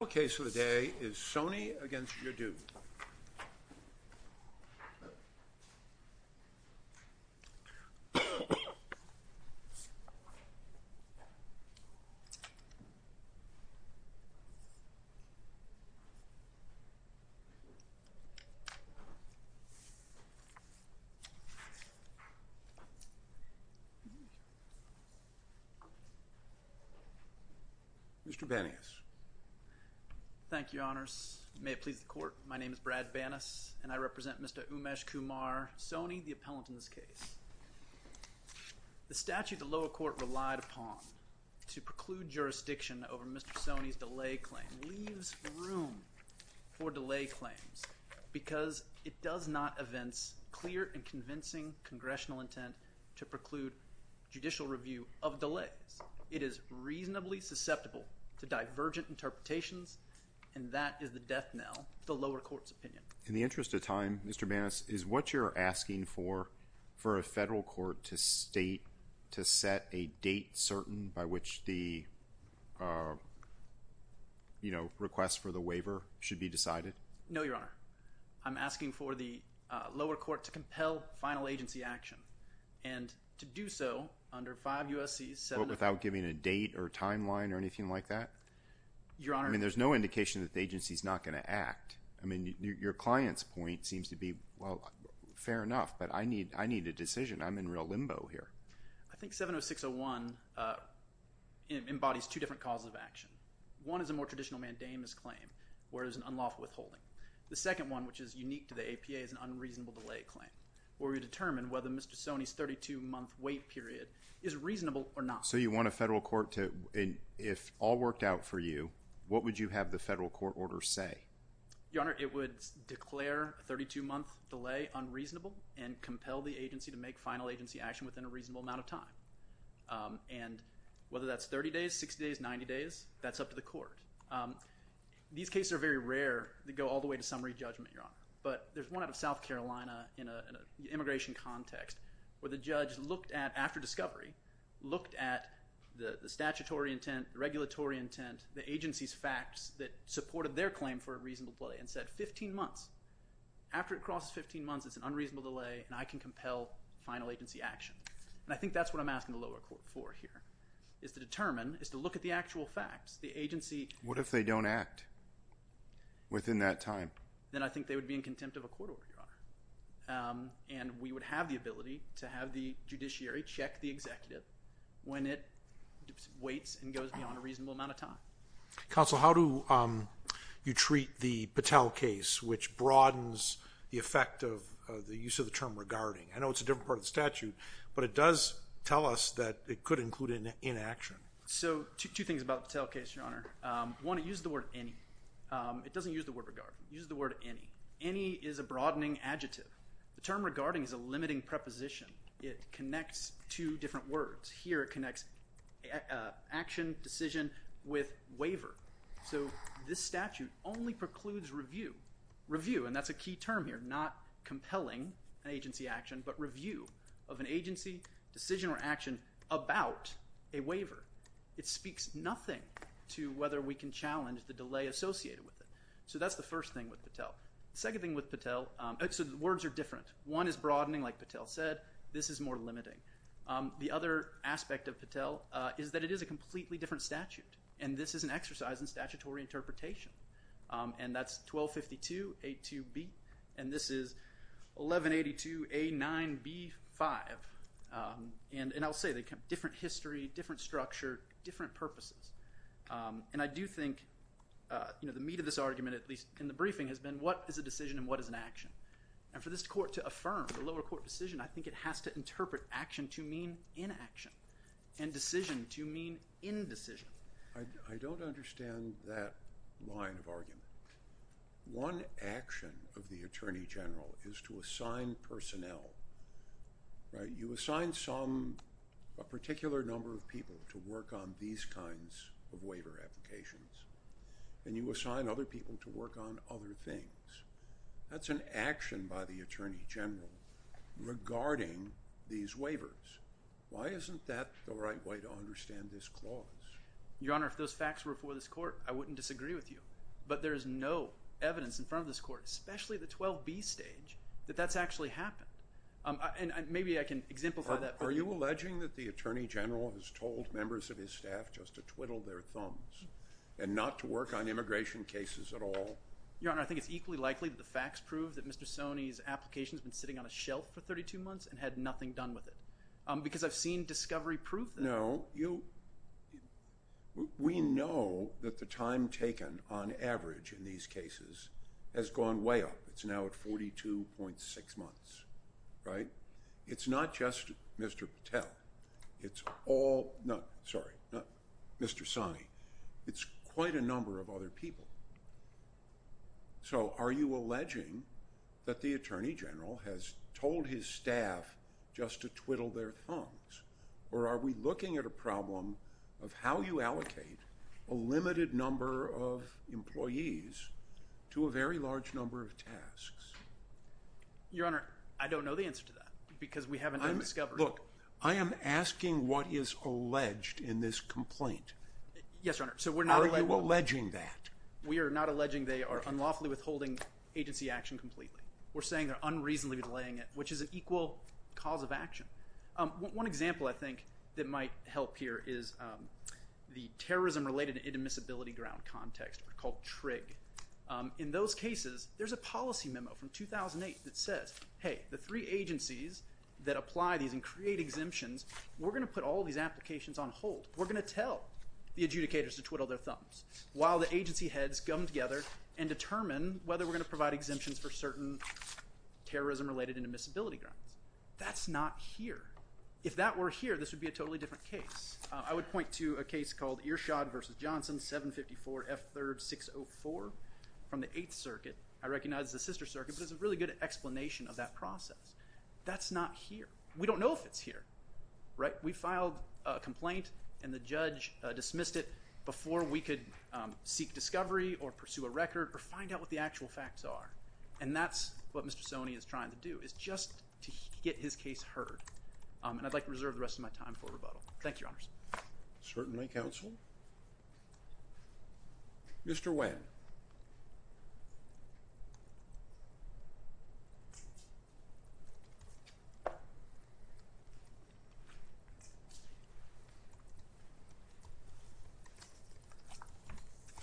The case of the day is Soni v. Ur Jaddou. Mr. Banias. Thank you, Your Honors. May it please the Court, my name is Brad Banias and I represent Mr. Umeshkumar Soni, the appellant in this case. The statute the lower court relied upon to preclude jurisdiction over Mr. Soni's delay claim leaves room for delay claims because it does not evince clear and convincing congressional intent to preclude judicial review of delays. It is reasonably susceptible to divergent interpretations and that is the death knell the lower court's opinion. In the interest of time, Mr. Banias, is what you're asking for for a federal court to state a date certain by which the, you know, request for the waiver should be decided? No, Your Honor. I'm asking for the lower court to compel final agency action and to do so under 5 U.S.C. 7 to 4. Without giving a date or timeline or anything like that? Your Honor. I mean, there's no indication that the agency's not going to act. I mean, your client's point seems to be, well, fair enough, but I need a decision. I'm in real limbo here. I think 70601 embodies two different causes of action. One is a more traditional mandamus claim where there's an unlawful withholding. The second one, which is unique to the APA, is an unreasonable delay claim where we determine whether Mr. Soni's 32-month wait period is reasonable or not. So you want a federal court to, if all worked out for you, what would you have the federal court order say? Your Honor, it would declare a 32-month delay unreasonable and compel the agency to make final agency action within a reasonable amount of time. And whether that's 30 days, 60 days, 90 days, that's up to the court. These cases are very rare. They go all the way to summary judgment, your Honor. But there's one out of South Carolina in an immigration context where the judge looked at, after discovery, looked at the statutory intent, regulatory intent, the agency's facts that supported their claim for a reasonable delay and said, 15 months. After it crosses 15 months, it's an unreasonable delay and I can compel final agency action. And I think that's what I'm asking the lower court for here, is to determine, is to look at the actual facts. The agency... What if they don't act within that time? Then I think they would be in contempt of a court order, your Honor. And we would have the ability to have the judiciary check the executive when it waits and goes beyond a reasonable amount of time. Counsel, how do you treat the Patel case, which broadens the effect of the use of the term regarding? I know it's a different part of the statute, but it does tell us that it could include an inaction. So, two things about the Patel case, your Honor. One, it used the word any. It doesn't use the word regarding. It uses the word any. Any is a broadening adjective. The term regarding is a limiting preposition. It connects two different words. Here, it connects action, decision, with waiver. So, this statute only precludes review, and that's a key term here. Not compelling agency action, but review of an agency, decision, or action about a waiver. It speaks nothing to whether we can challenge the delay associated with it. So, that's the first thing with Patel. Second thing with Patel... So, the words are different. One is broadening, like Patel said. This is more limiting. The other aspect of Patel is that it is a completely different statute, and this is an exercise in statutory interpretation. And that's 1252A2B, and this is 1182A9B5. And I'll say, they have different history, different structure, different purposes. And I do think, you know, the meat of this argument, at least in the briefing, has been what is a decision and what is an action? And for this court to affirm the lower court decision, I think it has to interpret action to mean inaction, and decision to mean indecision. I don't understand that line of argument. One action of the Attorney General is to assign personnel, right? You assign some, a particular number of people, to work on these kinds of waiver applications, and you assign other people to work on other things. That's an action by the Attorney General regarding these waivers. Why isn't that the right way to understand this clause? Your Honor, if those facts were for this court, I wouldn't disagree with you. But there is no evidence in front of this court, especially at the 12B stage, that that's actually happened. And maybe I can exemplify that. Are you alleging that the Attorney General has told members of his staff just to twiddle their thumbs and not to work on immigration cases at all? Your Honor, I think it's equally likely that the facts prove that Mr. Sonny's application has been sitting on a shelf for 32 months and had nothing done with it. Because I've seen discovery prove that. No, you, we know that the time taken on average in these cases has gone way up. It's now at 42.6 months, right? It's not just Mr. Patel. It's all, no, sorry, not Mr. Sonny. It's quite a number of other people. So are you alleging that the Attorney General has told his staff just to twiddle their thumbs? Or are we looking at a problem of how you allocate a limited number of employees to a very large number of tasks? Your Honor, I don't know the answer to that. Because we haven't done discovery. Look, I am asking what is alleged in this complaint. Yes, Your Honor. Are you alleging that? We are not alleging they are unlawfully withholding agency action completely. We're saying they're unreasonably delaying it, which is an equal cause of action. One example I think that might help here is the terrorism-related inadmissibility ground context, called TRIG. In those cases, there's a policy memo from 2008 that says, hey, the three agencies that apply these and create exemptions, we're going to put all these applications on hold. We're going to tell the adjudicators to twiddle their thumbs while the agency heads come together and determine whether we're going to provide exemptions for certain terrorism-related inadmissibility grounds. That's not here. If that were here, this would be a totally different case. I would point to a case called Earshad v. Johnson, 754 F. 3rd 604 from the 8th Circuit. I recognize it's the sister circuit, but it's a really good explanation of that process. That's not here. We don't know if it's here, right? We filed a complaint and the judge dismissed it before we could seek discovery or pursue a record or find out what the actual facts are. And that's what Mr. Soney is trying to do, is just to get his case heard. And I'd like to reserve the rest of my time for rebuttal. Thank you, Your Honors. Certainly, Counsel. Mr. Winn.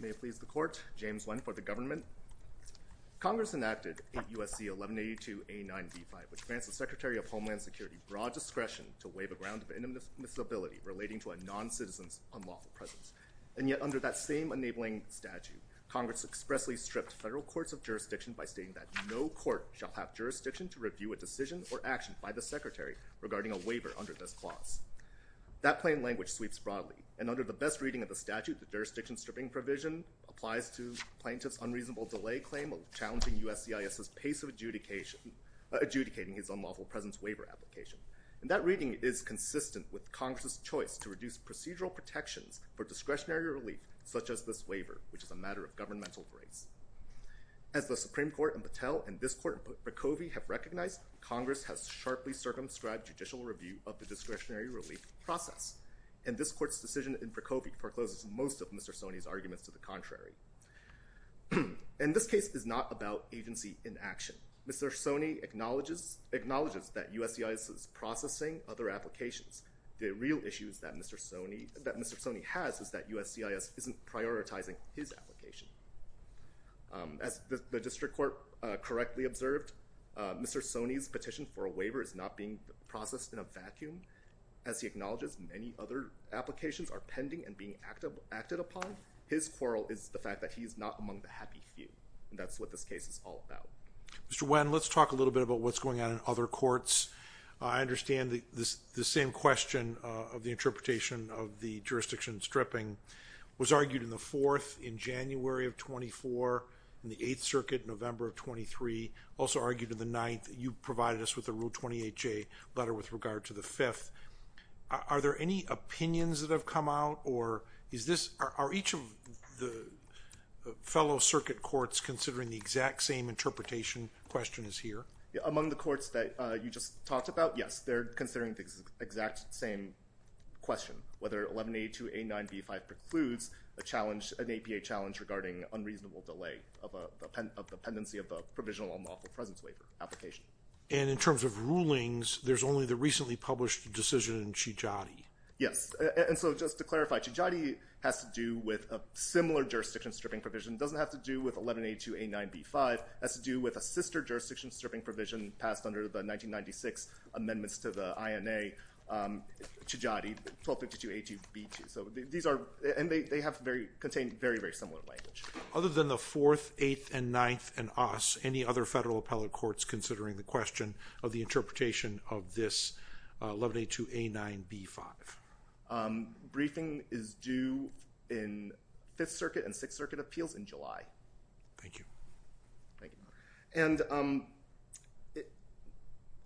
May it please the Court, James Winn for the Government. Congress enacted 8 U.S.C. 1182 A. 9 v. 5, which grants the Secretary of Homeland Security broad discretion to waive a ground of inadmissibility relating to a non-citizen's unlawful presence. And yet, under that same enabling statute, Congress expressly stripped federal courts of jurisdiction by stating that no court shall have jurisdiction to review a decision or action by the Secretary regarding a waiver under this clause. That plain language sweeps broadly, and under the best reading of the statute, the jurisdiction stripping provision applies to plaintiff's unreasonable delay claim of challenging USCIS's pace of adjudicating his unlawful presence waiver application. And that reading is consistent with Congress's choice to reduce procedural protections for discretionary relief, such as this waiver, which is a matter of governmental grace. As the Supreme Court in Patel and this Court in Procovi have recognized, Congress has sharply circumscribed judicial review of the discretionary relief process. And this Court's decision in Procovi forecloses most of Mr. Soni's arguments to the contrary. And this case is not about agency in action. Mr. Soni acknowledges that USCIS is processing other applications. The real issue that Mr. Soni has is that USCIS isn't prioritizing his application. As the District Court correctly observed, Mr. Soni's petition for a waiver is not being processed in a vacuum. As he acknowledges, many other applications are pending and being acted upon. His quarrel is the fact that he's not among the happy few. That's what this case is all about. Mr. Wen, let's talk a little bit about what's going on in other courts. I understand the same question of the interpretation of the jurisdiction stripping was argued in the Fourth in January of 24, in the Eighth Circuit in November of 23, also argued in the Ninth. You provided us with a Rule 28J letter with regard to the Fifth. Are there any opinions that have come out? Are each of the fellow circuit courts considering the exact same interpretation? Question is here. Among the courts that you just talked about, yes, they're considering the exact same question. Whether 1182A9B5 precludes an APA challenge regarding unreasonable delay of the pendency of a provisional unlawful presence waiver application. And in terms of rulings, there's only the recently published decision in Chidjadi. Yes. And so just to clarify, Chidjadi has to do with a similar jurisdiction stripping provision. It doesn't have to do with 1182A9B5. It has to do with a sister jurisdiction stripping provision passed under the 1996 amendments to the INA, Chidjadi, 1252A2B2. So these are, and they have contained very, very similar language. Other than the Fourth, Eighth, and Ninth, and Us, any other federal appellate courts considering the question of the interpretation of this 1182A9B5? Briefing is due in Fifth Circuit and Sixth Circuit appeals in July. Thank you. Thank you. And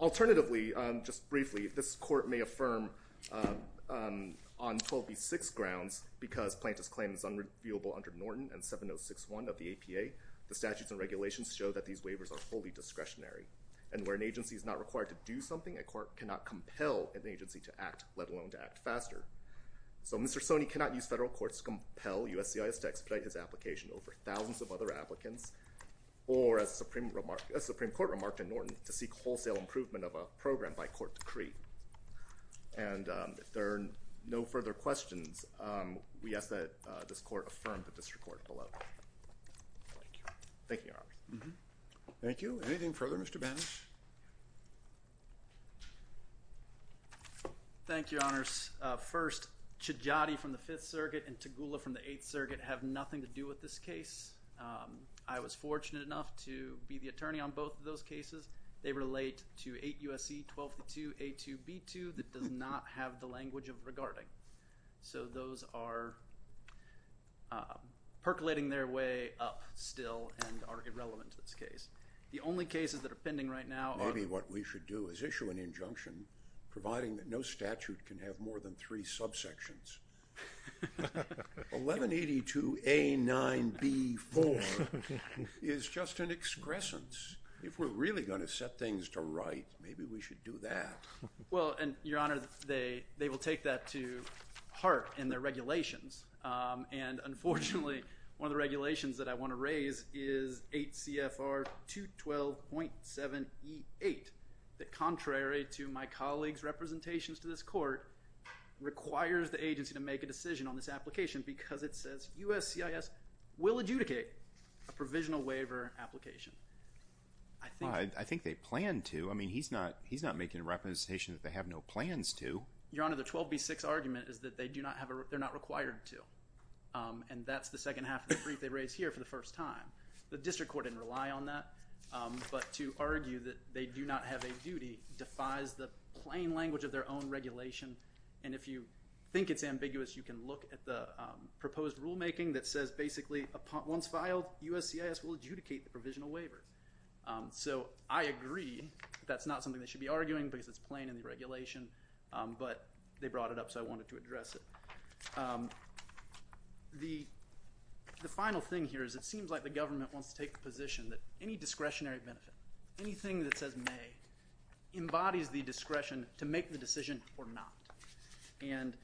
alternatively, just briefly, this court may affirm on 12B6 grounds, because plaintiff's claim is unreviewable under Norton and 7061 of the APA, the statutes and regulations show that these waivers are fully discretionary. And where an agency is not required to do something, a court cannot compel an agency to act, let alone to act faster. So Mr. Sony cannot use federal courts to compel USCIS to expedite his application over thousands of other applicants, or as the Supreme Court remarked in Norton, to seek wholesale improvement of a program by court decree. And if there are no further questions, we ask that this court affirm the district court below. Thank you. Thank you, Your Honor. Thank you. Anything further, Mr. Banas? Thank you, Your Honors. First, Chijati from the Fifth Circuit and Tagula from the Eighth Circuit have nothing to do with this case. I was fortunate enough to be the attorney on both of those cases. They relate to 8 U.S.C. 1282A2B2 that does not have the language of regarding. So those are percolating their way up still and are irrelevant to this case. The only cases that are pending right now are— Maybe what we should do is issue an injunction providing that no statute can have more than three subsections. 1182A9B4 is just an excrescence. If we're really going to set things to right, maybe we should do that. Well, and Your Honor, they will take that to heart in their regulations. And unfortunately, one of the regulations that I want to raise is 8 CFR 212.7E8 that, contrary to my colleague's representations to this court, requires the agency to make a decision on this application because it says U.S.C.I.S. will adjudicate a provisional waiver application. I think they plan to. I mean, he's not making a representation that they have no plans to. Your Honor, the 12B6 argument is that they do not have a—they're not required to. And that's the second half of the brief they raised here for the first time. The district court didn't rely on that. But to argue that they do not have a duty defies the plain language of their own regulation. And if you think it's ambiguous, you can look at the proposed rulemaking that says basically once filed, U.S.C.I.S. will adjudicate the provisional waiver. So I agree. That's not something they should be arguing because it's plain in the regulation. But they brought it up, so I wanted to address it. The final thing here is it seems like the government wants to take the position that any discretionary benefit, anything that says may, embodies the discretion to make the decision or not. And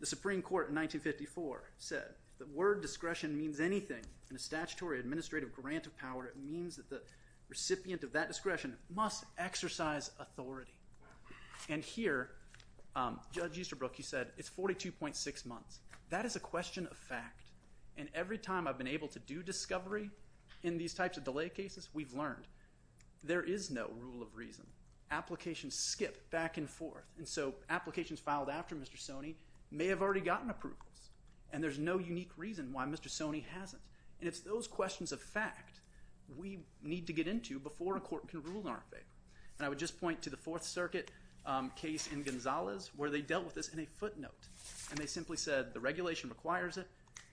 the Supreme Court in 1954 said if the word discretion means anything in a statutory administrative grant of power, it means that the recipient of that discretion must exercise authority. And here, Judge Easterbrook, you said it's 42.6 months. That is a question of fact. And every time I've been able to do discovery in these types of delay cases, we've learned there is no rule of reason. Applications skip back and forth. And so applications filed after Mr. Soney may have already gotten approvals. And there's no unique reason why Mr. Soney hasn't. And it's those questions of fact we need to get into before a court can rule in our favor. And I would just point to the Fourth Circuit case in Gonzalez where they dealt with this in a footnote. And they simply said the regulation requires it,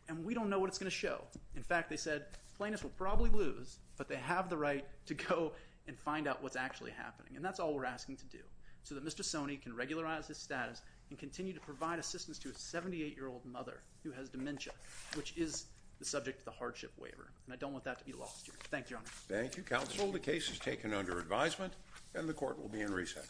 and we don't know what it's going to show. In fact, they said plaintiffs will probably lose, but they have the right to go and find out what's actually happening. And that's all we're asking to do, so that Mr. Soney can regularize his status and continue to provide assistance to a 78-year-old mother who has dementia, which is the subject of the hardship waiver. And I don't want that to be lost here. Thank you, Your Honor. Thank you, counsel. The case is taken under advisement, and the court will be in recess.